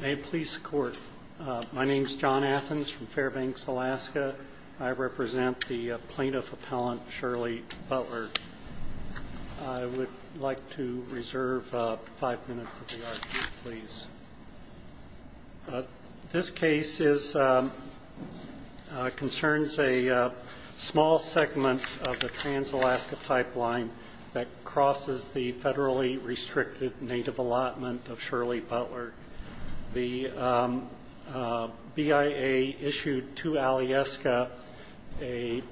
May it please the court. My name is John Athens from Fairbanks, Alaska. I represent the plaintiff appellant Shirley Butler. I would like to reserve five minutes of the argument, please. This case concerns a small segment of the Trans-Alaska Pipeline that crosses the federally restricted native allotment of Shirley Butler. The BIA issued to Alyeska a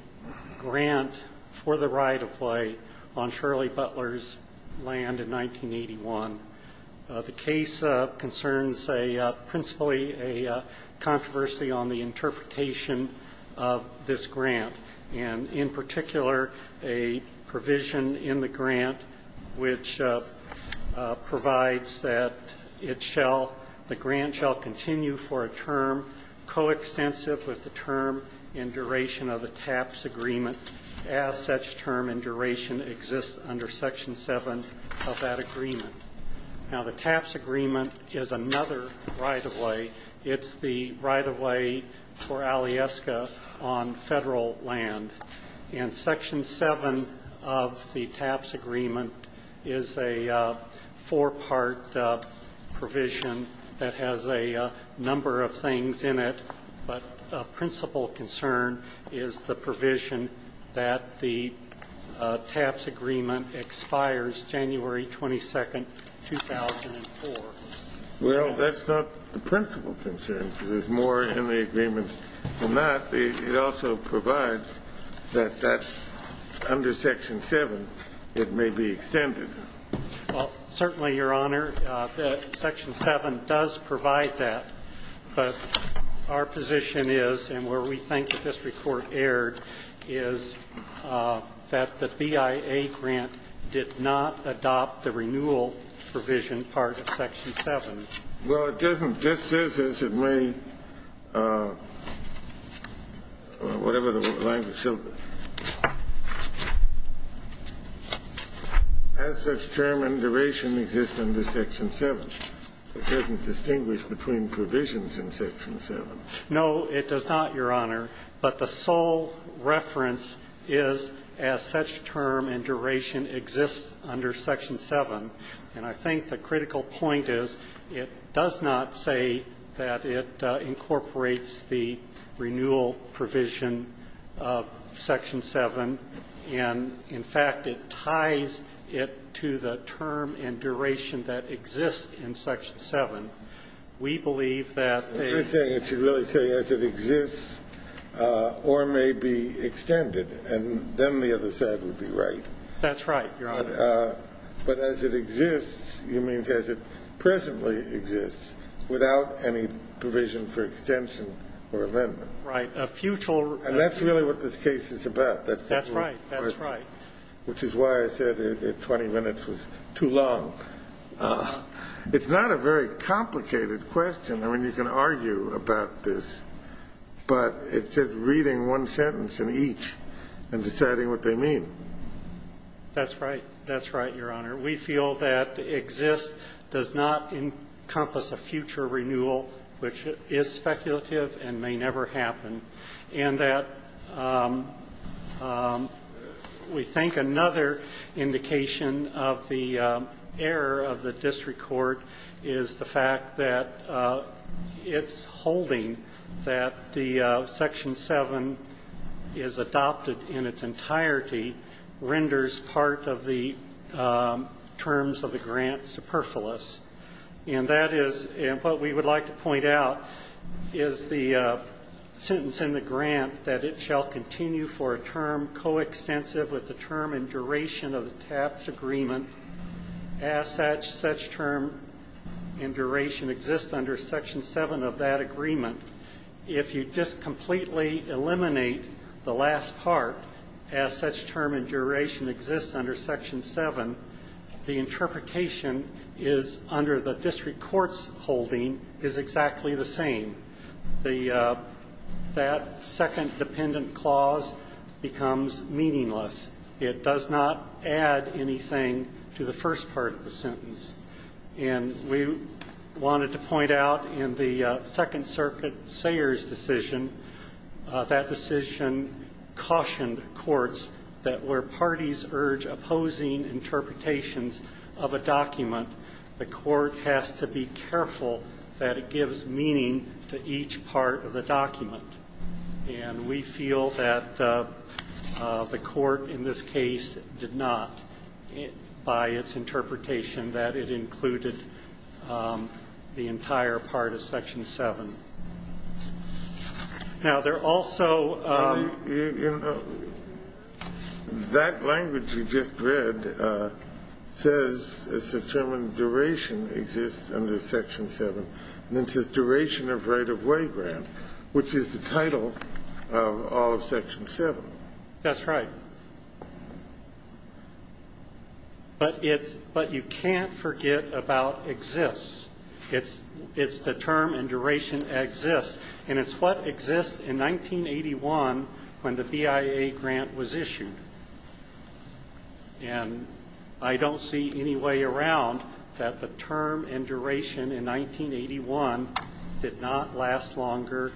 grant for the right of way on Shirley Butler's land in 1981. The case concerns a principally a controversy on the provides that it shall the grant shall continue for a term coextensive with the term in duration of the TAPS agreement as such term in duration exists under section 7 of that agreement. Now the TAPS agreement is another right of way. It's the right of way for Alyeska on federal land. In section 7 of the TAPS agreement is a four-part provision that has a number of things in it, but a principal concern is the provision that the TAPS agreement expires January 22nd, 2004. Well, that's not the principal concern because there's more in the agreement than that. It also provides that that's under section 7, it may be extended. Well, certainly, Your Honor, section 7 does provide that, but our position is and where we think the district court erred is that the BIA grant did not adopt the renewal provision part of section 7. Well, it doesn't. Just says as it may, or whatever the language shall be, as such term in duration exists under section 7. It doesn't distinguish between provisions in section 7. No, it does not, Your Honor, but the sole reference is as such term in duration exists under section 7. And I think the critical point is it does not say that it incorporates the renewal provision of section 7, and in fact, it ties it to the term in duration that exists in section 7. We believe that the You're saying it should really say as it exists or may be extended, and then the other side would be right. That's right, Your Honor. But as it exists, you mean as it presently exists without any provision for extension or amendment. Right. And that's really what this case is about. That's right. Which is why I said 20 minutes was too long. It's not a very complicated question. I mean, you can argue about this, but it's just reading one sentence in each and deciding what they mean. That's right. That's right, Your Honor. We feel that exist does not encompass a future renewal, which is speculative and may never happen. And that we think another indication of the error of the district court is the fact that it's holding that the section 7 is adopted in its entirety renders part of the terms of the grant superfluous. And that is what we would like to point out is the sentence in the grant that it shall continue for a term coextensive with the term in duration of the TAPS agreement as such. Such term in duration exists under section 7 of that agreement. If you just completely eliminate the last part as such term and duration exists under section 7, the interpretation is under the district court's holding is exactly the same. That second dependent clause becomes meaningless. It does not add anything to the first part of the sentence. And we wanted to point out in the Second Circuit Sayers decision, that decision cautioned courts that where parties urge opposing interpretations of a document, the court has to be careful that it gives meaning to each part of the document. And we feel that the court in this case did not, by its interpretation, that it included the entire part of section 7. Now, there are also That language you just read says it's a term in duration exists under section 7. And it says duration of right-of-way grant, which is the title of all of section 7. That's right. But it's, but you can't forget about exists. It's the term in duration exists. And it's what exists in 1981 when the BIA grant was issued. And I don't see any way around that the term in duration in 1981 did not last longer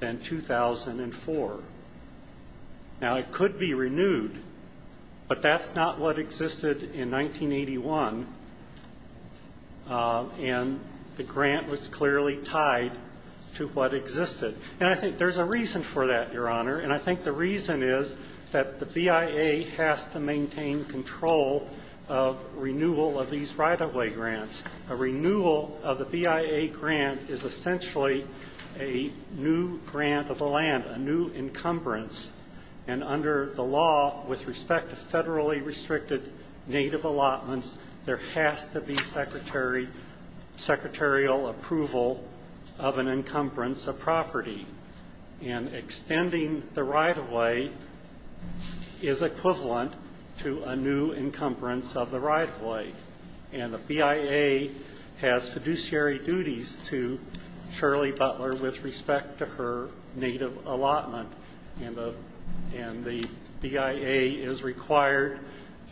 than 2004. Now, it could be renewed, but that's not what existed in 1981. And the grant was clearly tied to what existed. And I think there's a reason for that, Your Honor. And I think the reason is that the BIA has to maintain control of renewal of these right-of-way grants. A renewal of the BIA grant is essentially a new grant of the land, a new encumbrance. And under the law with respect to federally restricted native allotments, there has to be secretarial approval of an encumbrance of property. And extending the right-of-way is equivalent to a new encumbrance of the right-of-way. And the BIA has fiduciary duties to Shirley Butler with respect to her native allotment. And the BIA is required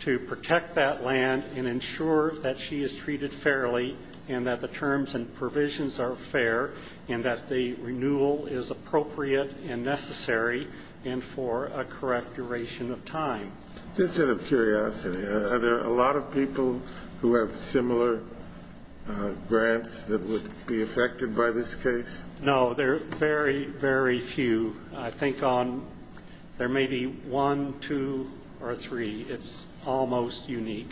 to protect that land and ensure that she is treated fairly and that terms and provisions are fair and that the renewal is appropriate and necessary and for a correct duration of time. Just out of curiosity, are there a lot of people who have similar grants that would be affected by this case? No, there are very, very few. I think there may be one, two, or three. It's almost unique.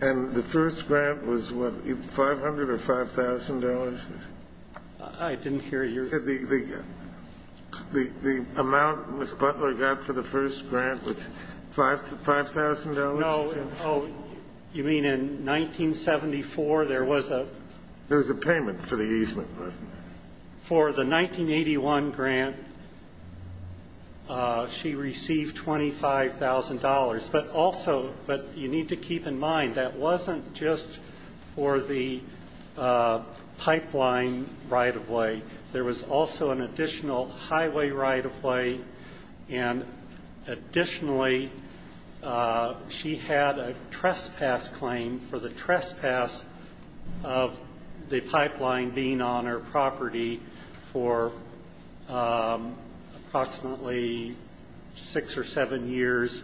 And the first grant was what, $500,000 or $5,000? I didn't hear you. The amount Ms. Butler got for the first grant was $5,000? No, you mean In 1974, there was a There was a payment for the easement, wasn't there? For the 1981 grant, she received $25,000. But also, but you need to keep in mind, that wasn't just for the pipeline right-of-way. There was also an additional highway right-of-way. And additionally, she had a trespass claim for the trespass of the pipeline being on her property for approximately six or seven years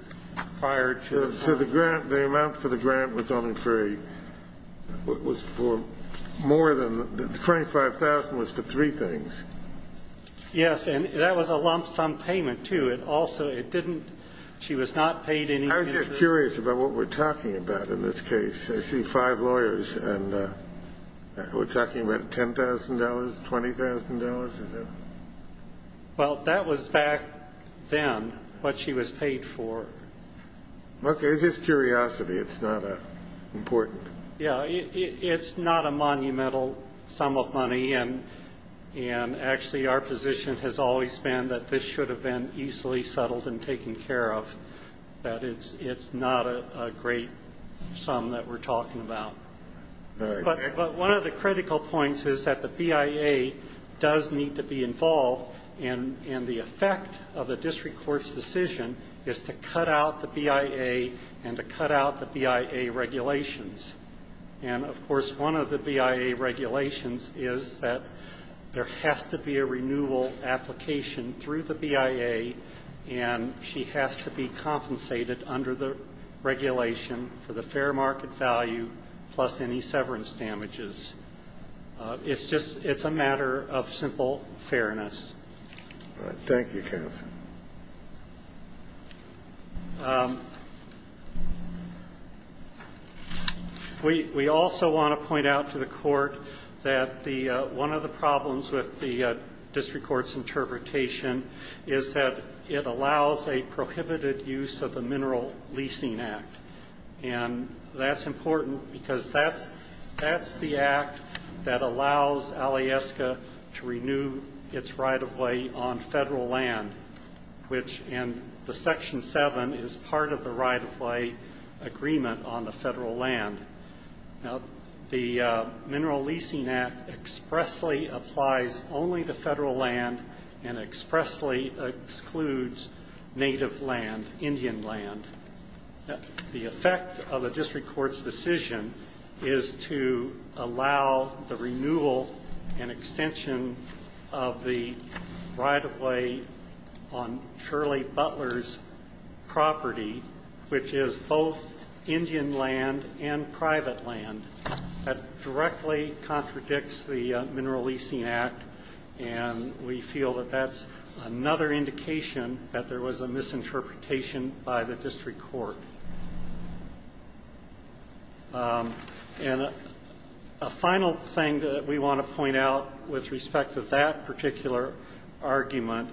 prior to the grant. So the grant, the amount for the grant was only for a, was for more than, $25,000 was for three things? Yes, and that was a lump sum payment, too. It also, it didn't, she was not paid anything. I was just curious about what we're talking about in this case. I see five lawyers, and we're talking about $10,000, $20,000, is it? Well, that was back then what she was paid for. Okay, it's just curiosity. It's not important. Yeah, it's not a monumental sum of money. And actually, our position has always been that this should have been easily settled and taken care of, that it's not a great sum that we're talking about. But one of the critical points is that the BIA does need to be involved, and the effect of a district court's decision is to cut out the BIA and to cut out the BIA regulations. And of course, one of the BIA regulations is that there has to be a renewal application through the BIA, and she has to be compensated under the regulation for the fair market value plus any severance damages. It's just, it's a matter of simple fairness. All right. Thank you, counsel. We also want to point out to the Court that the, one of the problems with the district court's interpretation is that it allows a prohibited use of the Mineral Leasing Act. And that's important because that's the act that allows Alyeska to renew its right-of-way on federal land, which in the Section 7 is part of the right-of-way agreement on the federal land. Now, the Mineral Leasing Act expressly applies only to federal land and expressly excludes native land, Indian land. The effect of a district court's decision is to allow the renewal and extension of the right-of-way on Shirley Butler's property, which is both Indian land and private land. That directly contradicts the Mineral Leasing Act, and we feel that that's another indication that there was a misinterpretation by the district court. And a final thing that we want to point out with respect to that particular argument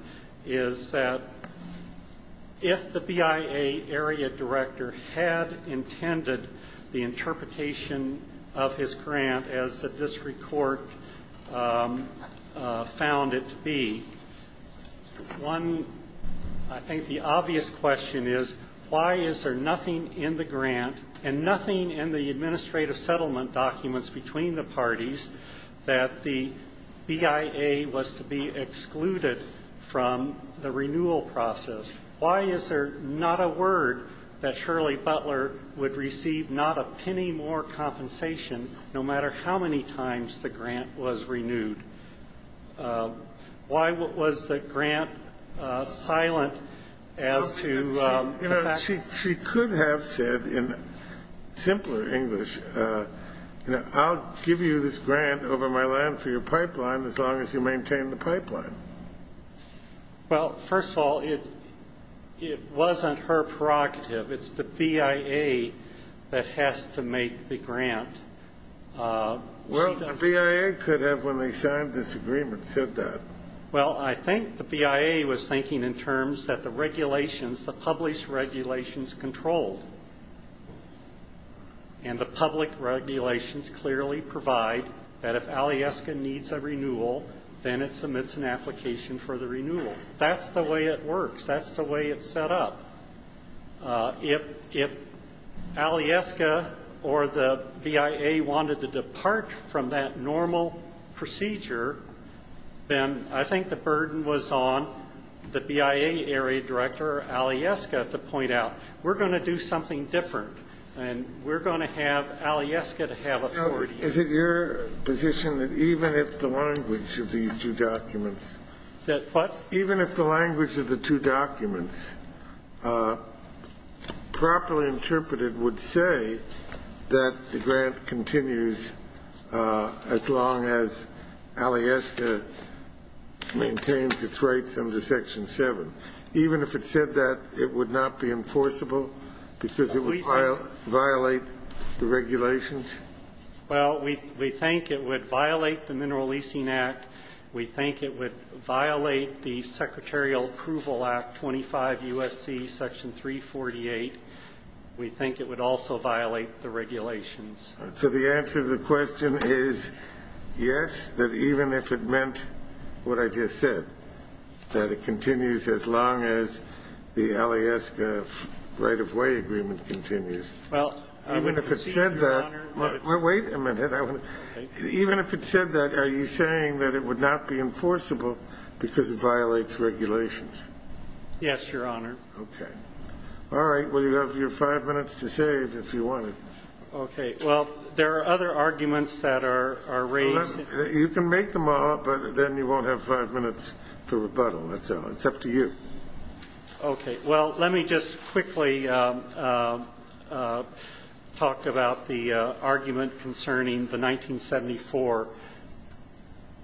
is that if the BIA area director had intended the interpretation of his grant as the district court found it to be, one, I think the obvious question is why is there nothing in the grant and nothing in the administrative settlement documents between the parties that the BIA was to be excluded from the renewal process? Why is there not a word that Shirley Butler would receive not a penny more compensation, no matter how many times the grant was renewed? Why was the grant silent as to the fact that she could have said in simpler English, you know, I'll give you this grant over my land for your pipeline as long as you maintain the pipeline? Well, first of all, it wasn't her prerogative. It's the BIA that has to make the grant. Well, the BIA could have, when they signed this agreement, said that. Well, I think the BIA was thinking in terms that the regulations, the published regulations control and the public regulations clearly provide that if Alyeska needs a renewal, then it submits an application for the renewal. That's the way it works. That's the way it's set up. If Alyeska or the BIA wanted to depart from that normal procedure, then I think the burden was on the BIA area director Alyeska to point out, we're going to do something different and we're going to have Alyeska to have authority. Is it your position that even if the language of these two documents, even if the language of the two documents properly interpreted would say that the grant continues as long as Alyeska maintains its rights under Section 7? Even if it said that, it would not be enforceable because it would violate the regulations? Well, we think it would violate the Mineral Leasing Act. We think it would violate the regulations. So the answer to the question is yes, that even if it meant what I just said, that it continues as long as the Alyeska right-of-way agreement continues. Well, I would have said that. Wait a minute. Even if it said that, are you saying that it would not be enforceable because it violates regulations? Yes, Your Honor. Okay. All right. Well, you have your five minutes to save if you wanted. Okay. Well, there are other arguments that are raised. You can make them all, but then you won't have five minutes for rebuttal. That's all. It's up to you. Okay. Well, let me just quickly talk about the argument concerning the 1974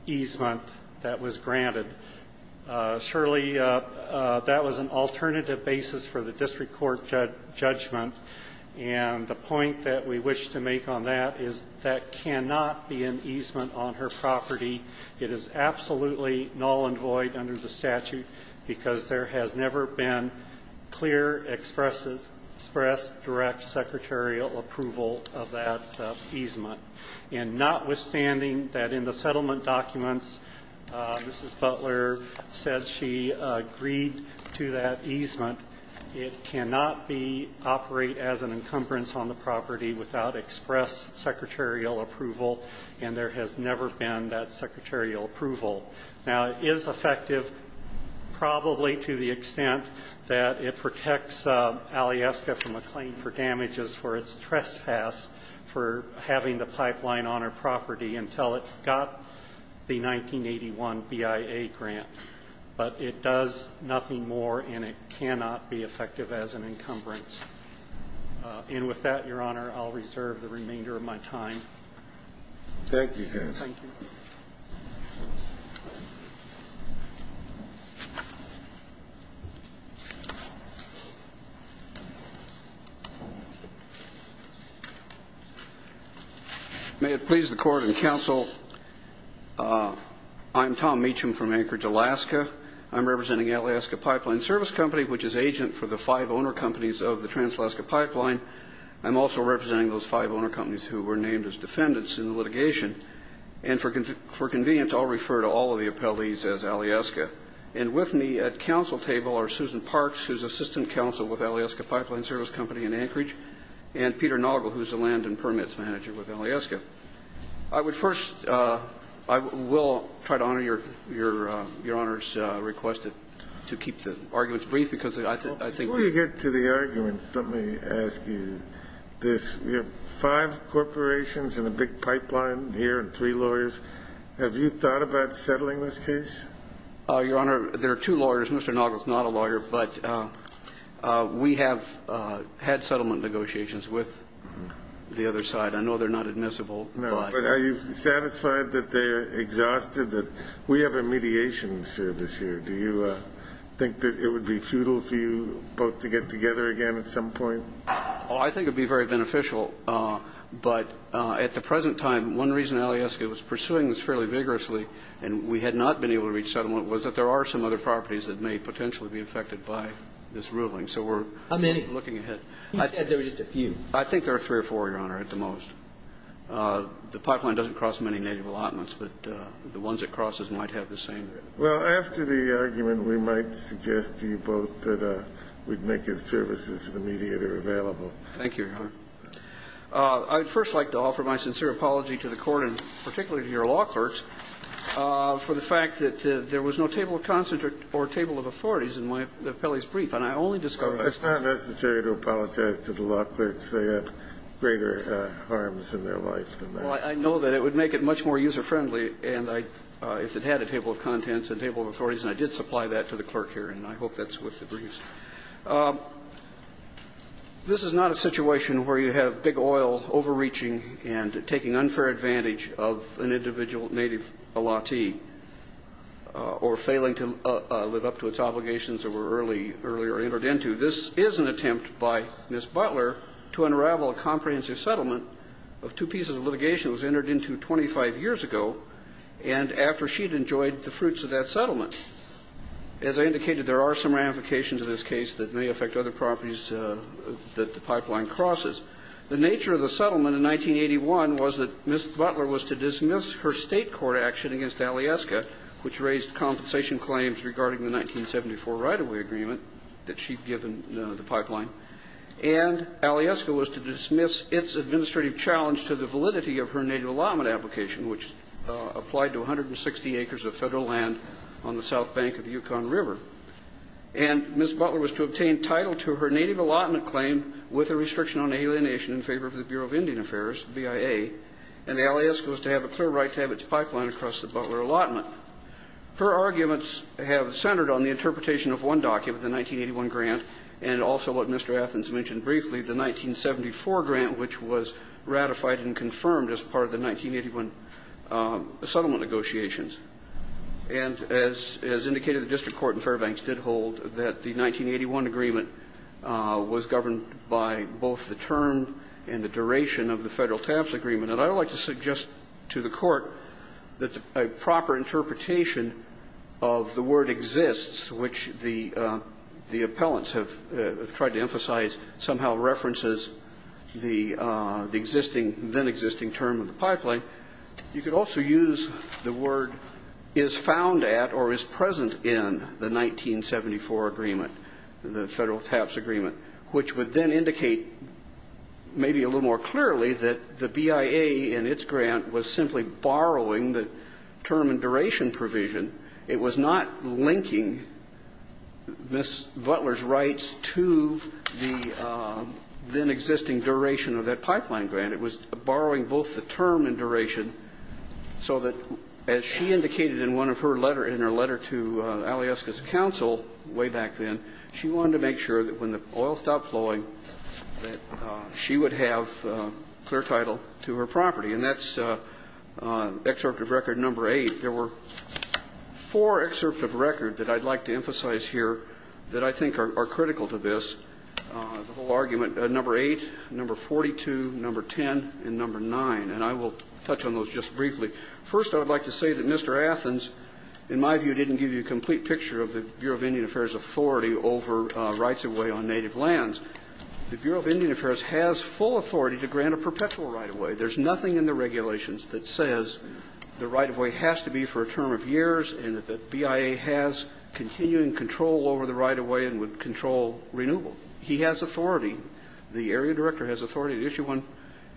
easement that was granted. Surely, that was an alternative basis for the district court judgment. And the point that we wish to make on that is that cannot be an easement on her property. It is absolutely null and void under the statute because there has never been clear, express, direct secretarial approval of that easement. And notwithstanding that in the settlement documents, Mrs. Butler said she agreed to that easement, it cannot operate as an encumbrance on the property without express secretarial approval, and there has never been that secretarial approval. Now, it is effective probably to the extent that it protects Alyeska from a claim for damages for trespass for having the pipeline on her property until it got the 1981 BIA grant. But it does nothing more, and it cannot be effective as an encumbrance. And with that, Your Honor, I'll reserve the remainder of my time. Thank you, Judge. Thank you, Your Honor. May it please the court and counsel, I'm Tom Meacham from Anchorage, Alaska. I'm representing Alyeska Pipeline Service Company, which is agent for the five owner companies of the Trans-Alaska Pipeline. I'm also representing those five owner companies who were named as defendants in the litigation. And for convenience, I'll refer to all of the appellees as Alyeska. And with me at counsel table are Susan Parks, who's assistant counsel with Alyeska Pipeline Service Company in Anchorage, and Peter Noggle, who's the land and permits manager with Alyeska. I would first, I will try to honor Your Honor's request to keep the arguments brief because I think Before you get to the arguments, let me ask you this. Five corporations and a big pipeline here and three lawyers. Have you thought about settling this case? Your Honor, there are two lawyers, Mr. Noggle is not a lawyer, but we have had settlement negotiations with the other side. I know they're not admissible. No, but are you satisfied that they're exhausted that we have a mediation service here? Do you think that it would be futile for you both to get together again at some point? Oh, I think it would be very beneficial. But at the present time, one reason Alyeska was pursuing this fairly vigorously and we had not been able to reach settlement was that there are some other properties that may potentially be affected by this ruling. So we're looking ahead. He said there were just a few. I think there are three or four, Your Honor, at the most. The pipeline doesn't cross many native allotments, but the ones it crosses might have the same. Well, after the argument, we might suggest to you both that we'd make it services of the media that are available. Thank you, Your Honor. I'd first like to offer my sincere apology to the Court and particularly to your law clerks for the fact that there was no table of consent or table of authorities in my appellee's brief. And I only discovered that. Well, it's not necessary to apologize to the law clerks. They have greater harms in their life than that. Well, I know that it would make it much more user-friendly if it had a table of contents and table of authorities, and I did supply that to the clerk here, and I hope that's what the briefs. This is not a situation where you have big oil overreaching and taking unfair advantage of an individual native allottee or failing to live up to its obligations that were earlier entered into. This is an attempt by Ms. Butler to unravel a comprehensive settlement of two pieces of litigation that was entered into 25 years ago and after she'd enjoyed the fruits of that settlement. As I indicated, there are some ramifications in this case that may affect other properties that the pipeline crosses. The nature of the settlement in 1981 was that Ms. Butler was to dismiss her state court action against Alyeska, which raised compensation claims regarding the 1974 right-of-way agreement that she'd given the pipeline, and Alyeska was to dismiss its administrative challenge to the validity of her native allotment application, which applied to 160 acres of Federal land on the south bank of the Yukon River. And Ms. Butler was to obtain title to her native allotment claim with a restriction on alienation in favor of the Bureau of Indian Affairs, BIA, and Alyeska was to have a clear right to have its pipeline across the Butler allotment. Her arguments have centered on the interpretation of one document, the 1981 grant, and also what Mr. Athens mentioned briefly, the 1974 grant, which was ratified and confirmed as part of the 1981 settlement negotiations. And as indicated, the district court in Fairbanks did hold that the 1981 agreement was governed by both the term and the duration of the Federal TAPS agreement. And I would like to suggest to the Court that a proper interpretation of the word exists, which the appellants have tried to emphasize somehow references the existing then existing term of the pipeline. You could also use the word is found at or is present in the 1974 agreement, the Federal TAPS agreement, which would then indicate maybe a little more clearly that the BIA in its grant was simply borrowing the term and duration provision. It was not linking Ms. Butler's rights to the then existing duration of that pipeline grant. It was borrowing both the term and duration so that, as she indicated in one of her letter in her letter to Alyeska's counsel way back then, she wanted to make sure that when the oil stopped flowing that she would have clear title to her property. And that's excerpt of record number eight. There were four excerpts of record that I'd like to emphasize here that I think are critical to this, the whole argument. Number eight, number 42, number 10, and number nine. And I will touch on those just briefly. First, I would like to say that Mr. Athens, in my view, didn't give you a complete picture of the Bureau of Indian Affairs authority over rights of way on native lands. The Bureau of Indian Affairs has full authority to grant a perpetual right of way. There's nothing in the regulations that says the right of way has to be for a term of years and that the BIA has continuing control over the right of way and would control renewal. He has authority, the area director has authority to issue one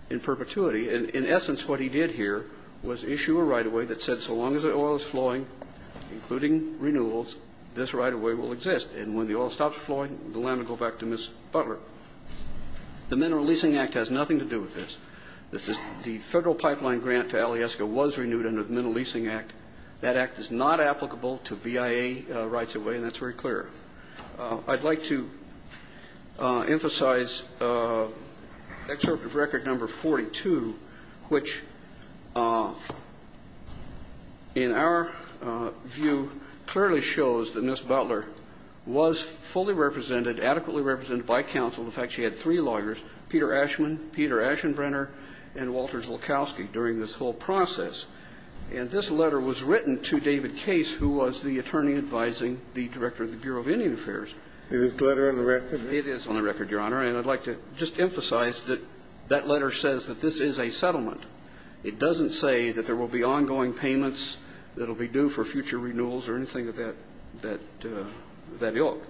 in perpetuity. And in essence, what he did here was issue a right of way that said, so long as the oil is flowing, including renewals, this right of way will exist. And when the oil stops flowing, the land will go back to Ms. Butler. The Mineral Leasing Act has nothing to do with this. The Federal Pipeline Grant to Alyeska was renewed under the Mineral Leasing Act. That act is not applicable to BIA rights of way, and that's very clear. I'd like to emphasize Excerpt of Record Number 42, which in our view clearly shows that Ms. Butler was fully represented, adequately represented by counsel. In fact, she had three lawyers, Peter Ashman, Peter Aschenbrenner, and Walters Lukowski during this whole process. And this letter was written to David Case, who was the attorney advising the director of the Bureau of Indian Affairs. Is this letter on the record? It is on the record, Your Honor. And I'd like to just emphasize that that letter says that this is a settlement. It doesn't say that there will be ongoing payments that will be due for future renewals or anything of that ilk.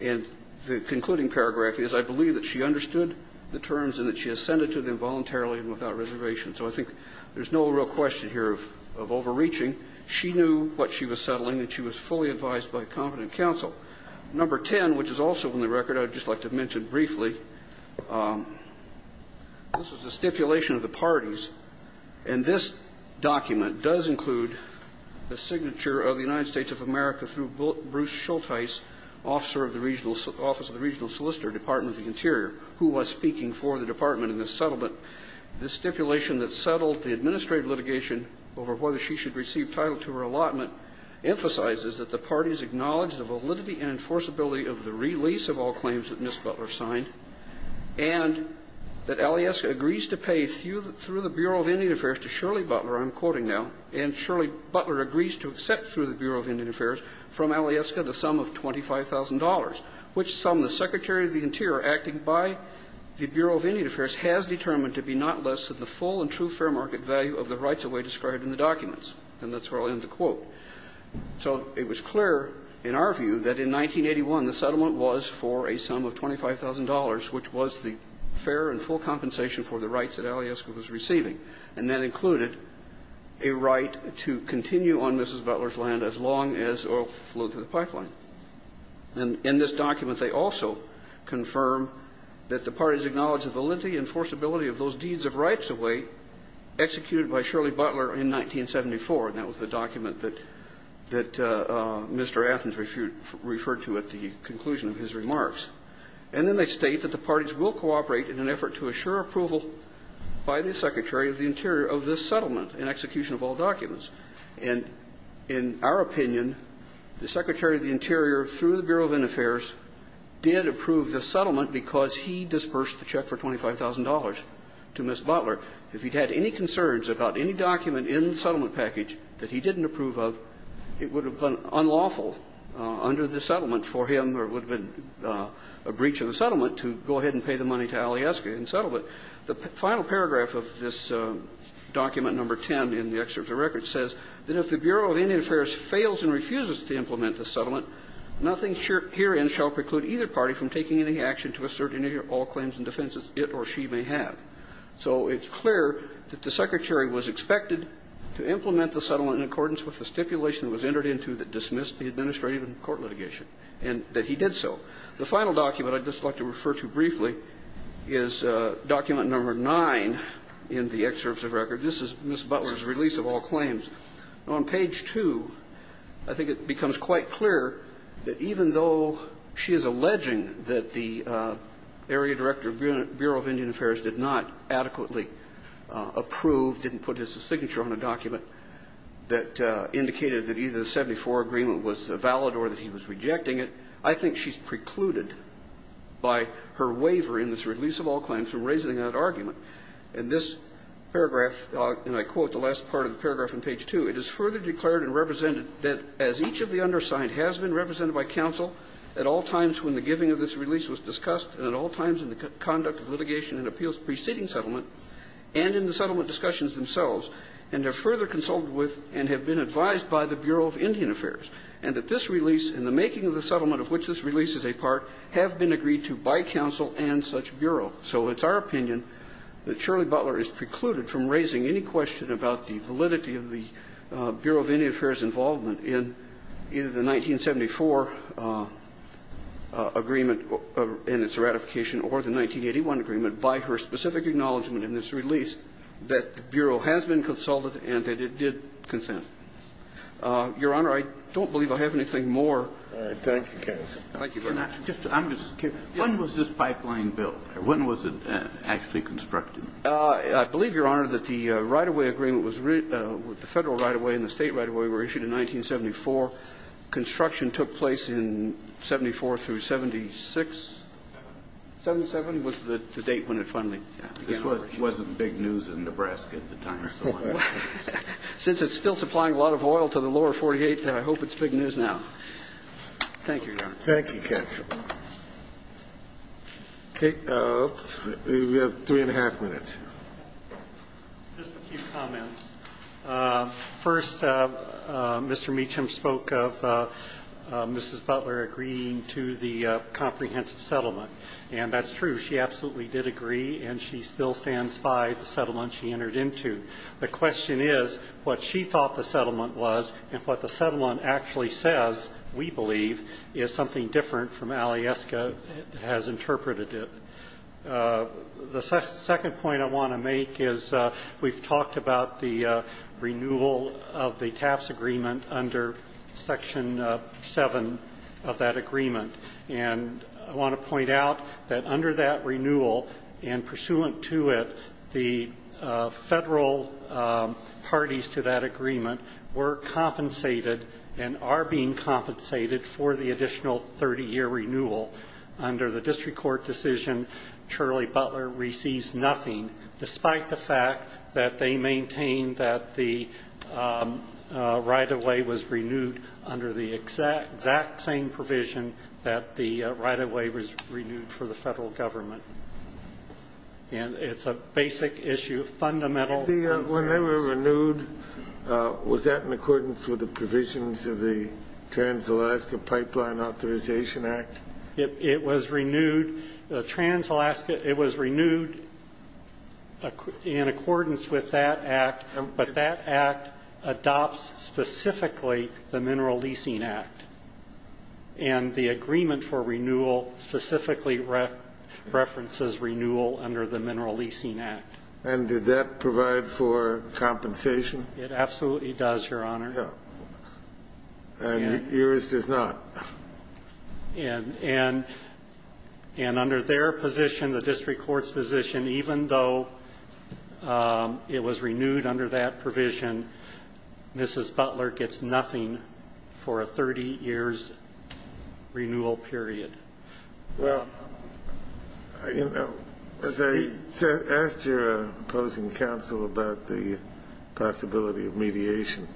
And the concluding paragraph is, I believe that she understood the terms and that she has sent it to them voluntarily and without reservation. So I think there's no real question here of overreaching. She knew what she was settling and she was fully advised by a competent counsel. Number 10, which is also on the record, I'd just like to mention briefly, this is the stipulation of the parties, and this document does include the signature of the United States of America through Bruce Schultz Heiss, officer of the regional solicitor, Department of the Interior, who was speaking for the department in this settlement. This stipulation that settled the administrative litigation over whether she should receive title to her allotment emphasizes that the parties acknowledge the validity and enforceability of the release of all claims that Ms. Butler signed and that Alyeska agrees to pay through the Bureau of Indian Affairs to Shirley Butler, I'm quoting now, and Shirley Butler agrees to accept through the Bureau of Indian Affairs from Alyeska the sum of $25,000, which sum the Secretary of the Interior acting by the Bureau of Indian Affairs has determined to be not less than the full and true fair market value of the rights of way described in the documents. And that's where I'll end the quote. So it was clear in our view that in 1981 the settlement was for a sum of $25,000, which was the fair and full compensation for the rights that Alyeska was receiving, and that included a right to continue on Mrs. Butler's land as long as oil flowed through the pipeline. And in this document they also confirm that the parties acknowledge the validity and enforceability of those deeds of rights of way executed by Shirley Butler in 1974, and that was the document that Mr. Athens referred to at the conclusion of his remarks. And then they state that the parties will cooperate in an effort to assure approval by the Secretary of the Interior of this settlement in execution of all documents. And in our opinion, the Secretary of the Interior, through the Bureau of Indian Affairs, did approve the settlement because he dispersed the check for $25,000 to Miss Butler. If he'd had any concerns about any document in the settlement package that he didn't approve of, it would have been unlawful under the settlement for him, or it would have been a breach of the settlement to go ahead and pay the money to Alyeska and settle it. The final paragraph of this document, number 10 in the excerpt of the record, says that if the Bureau of Indian Affairs fails and refuses to implement the settlement, nothing herein shall preclude either party from taking any action to assert any or all claims and defenses it or she may have. So it's clear that the Secretary was expected to implement the settlement in accordance with the stipulation that was entered into that dismissed the administrative and court litigation, and that he did so. The final document I'd just like to refer to briefly is document number nine in the excerpts of record. This is Miss Butler's release of all claims. On page two, I think it becomes quite clear that even though she is alleging that the Area Director of Bureau of Indian Affairs did not adequately approve, didn't put his signature on a document that indicated that either the 74 agreement was valid or that he was rejecting it, I think she's precluded by her waiver in this release of all claims from raising that argument. In this paragraph, and I quote the last part of the paragraph on page two, it is further declared and represented that as each of the undersigned has been represented by counsel at all times when the giving of this release was discussed and at all times in the conduct of litigation and appeals preceding settlement and in the settlement discussions themselves and have further consulted with and have been advised by the Bureau of Indian Affairs. And that this release in the making of the settlement of which this release is a part have been agreed to by counsel and such Bureau. So it's our opinion that Shirley Butler is precluded from raising any question about the validity of the Bureau of Indian Affairs' involvement in either the 1974 agreement and its ratification or the 1981 agreement by her specific acknowledgment in this release that the Bureau has been consulted and that it did consent. Your Honor, I don't believe I have anything more. Kennedy. Thank you very much. When was this pipeline built? When was it actually constructed? I believe, Your Honor, that the right-of-way agreement was the Federal right-of-way and the State right-of-way were issued in 1974. Construction took place in 74 through 76. 77 was the date when it finally began operation. This wasn't big news in Nebraska at the time. Since it's still supplying a lot of oil to the lower 48, I hope it's big news now. Thank you, Your Honor. Thank you, counsel. Okay. We have three and a half minutes. Just a few comments. First, Mr. Meacham spoke of Mrs. Butler agreeing to the comprehensive settlement. And that's true. She absolutely did agree, and she still stands by the settlement she entered into. The question is what she thought the settlement was and what the settlement actually says, we believe, is something different from Alieska has interpreted it. The second point I want to make is we've talked about the renewal of the TAFs agreement under Section 7 of that agreement. And I want to point out that under that renewal and pursuant to it, the federal parties to that agreement were compensated and are being compensated for the additional 30-year renewal. Under the district court decision, Charlie Butler receives nothing, despite the fact that they maintain that the right-of-way was renewed under the exact same provision that the right-of-way was renewed for the federal government. And it's a basic issue, fundamental. When they were renewed, was that in accordance with the provisions of the Trans-Alaska Pipeline Authorization Act? It was renewed in accordance with that act, but that act adopts specifically the Mineral Leasing Act. And the agreement for renewal specifically references renewal under the Mineral Leasing Act. And did that provide for compensation? It absolutely does, Your Honor. And yours does not? And under their position, the district court's position, even though it was renewed under that provision, Mrs. Butler gets nothing for a 30-years renewal period. Well, you know, as I asked your opposing counsel about the possibility of mediation,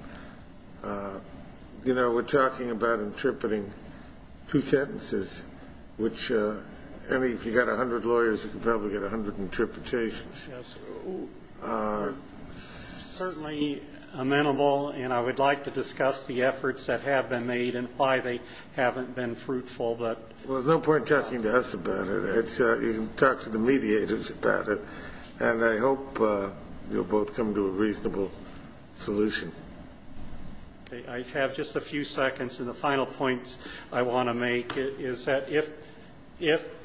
you know, we're talking about interpreting two sentences, which if you've got 100 lawyers, you can probably get 100 interpretations. Yes. Certainly amenable, and I would like to discuss the efforts that have been made and why they haven't been fruitful, but... Well, there's no point talking to us about it. You can talk to the mediators about it. And I hope you'll both come to a reasonable solution. Okay, I have just a few seconds, and the final points I want to make is that if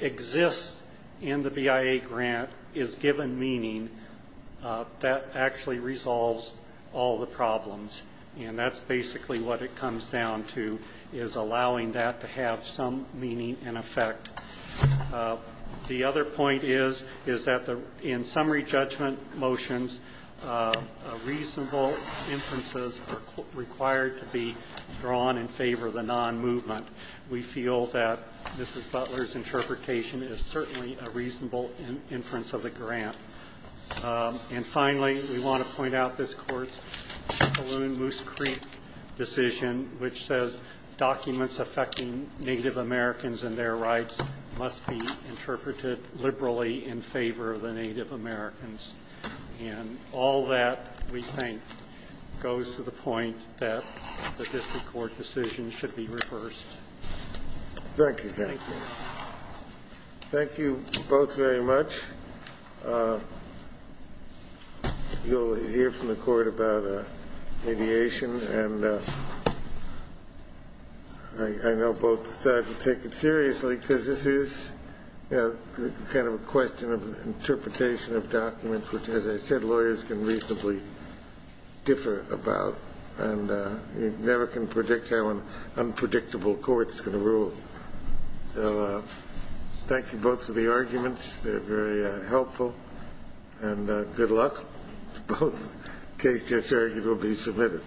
exists in the BIA grant is given meaning, that actually resolves all the problems. And that's basically what it comes down to, is allowing that to have some meaning and effect. The other point is, is that in summary judgment motions, reasonable inferences are required to be drawn in favor of the non-movement. We feel that Mrs. Butler's interpretation is certainly a reasonable inference of the grant. And finally, we want to point out this court's balloon moose creek decision, which says documents affecting Native Americans and their rights must be interpreted liberally in favor of the Native Americans. And all that, we think, goes to the point that the district court decision should be reversed. Thank you, counsel. Thank you. Thank you both very much. You'll hear from the court about mediation. And I know both sides will take it seriously, because this is kind of a question of interpretation of documents, which, as I said, lawyers can reasonably differ about. And you never can predict how an unpredictable court's going to rule. So thank you both for the arguments. They're very helpful. And good luck to both. Case just argued will be submitted.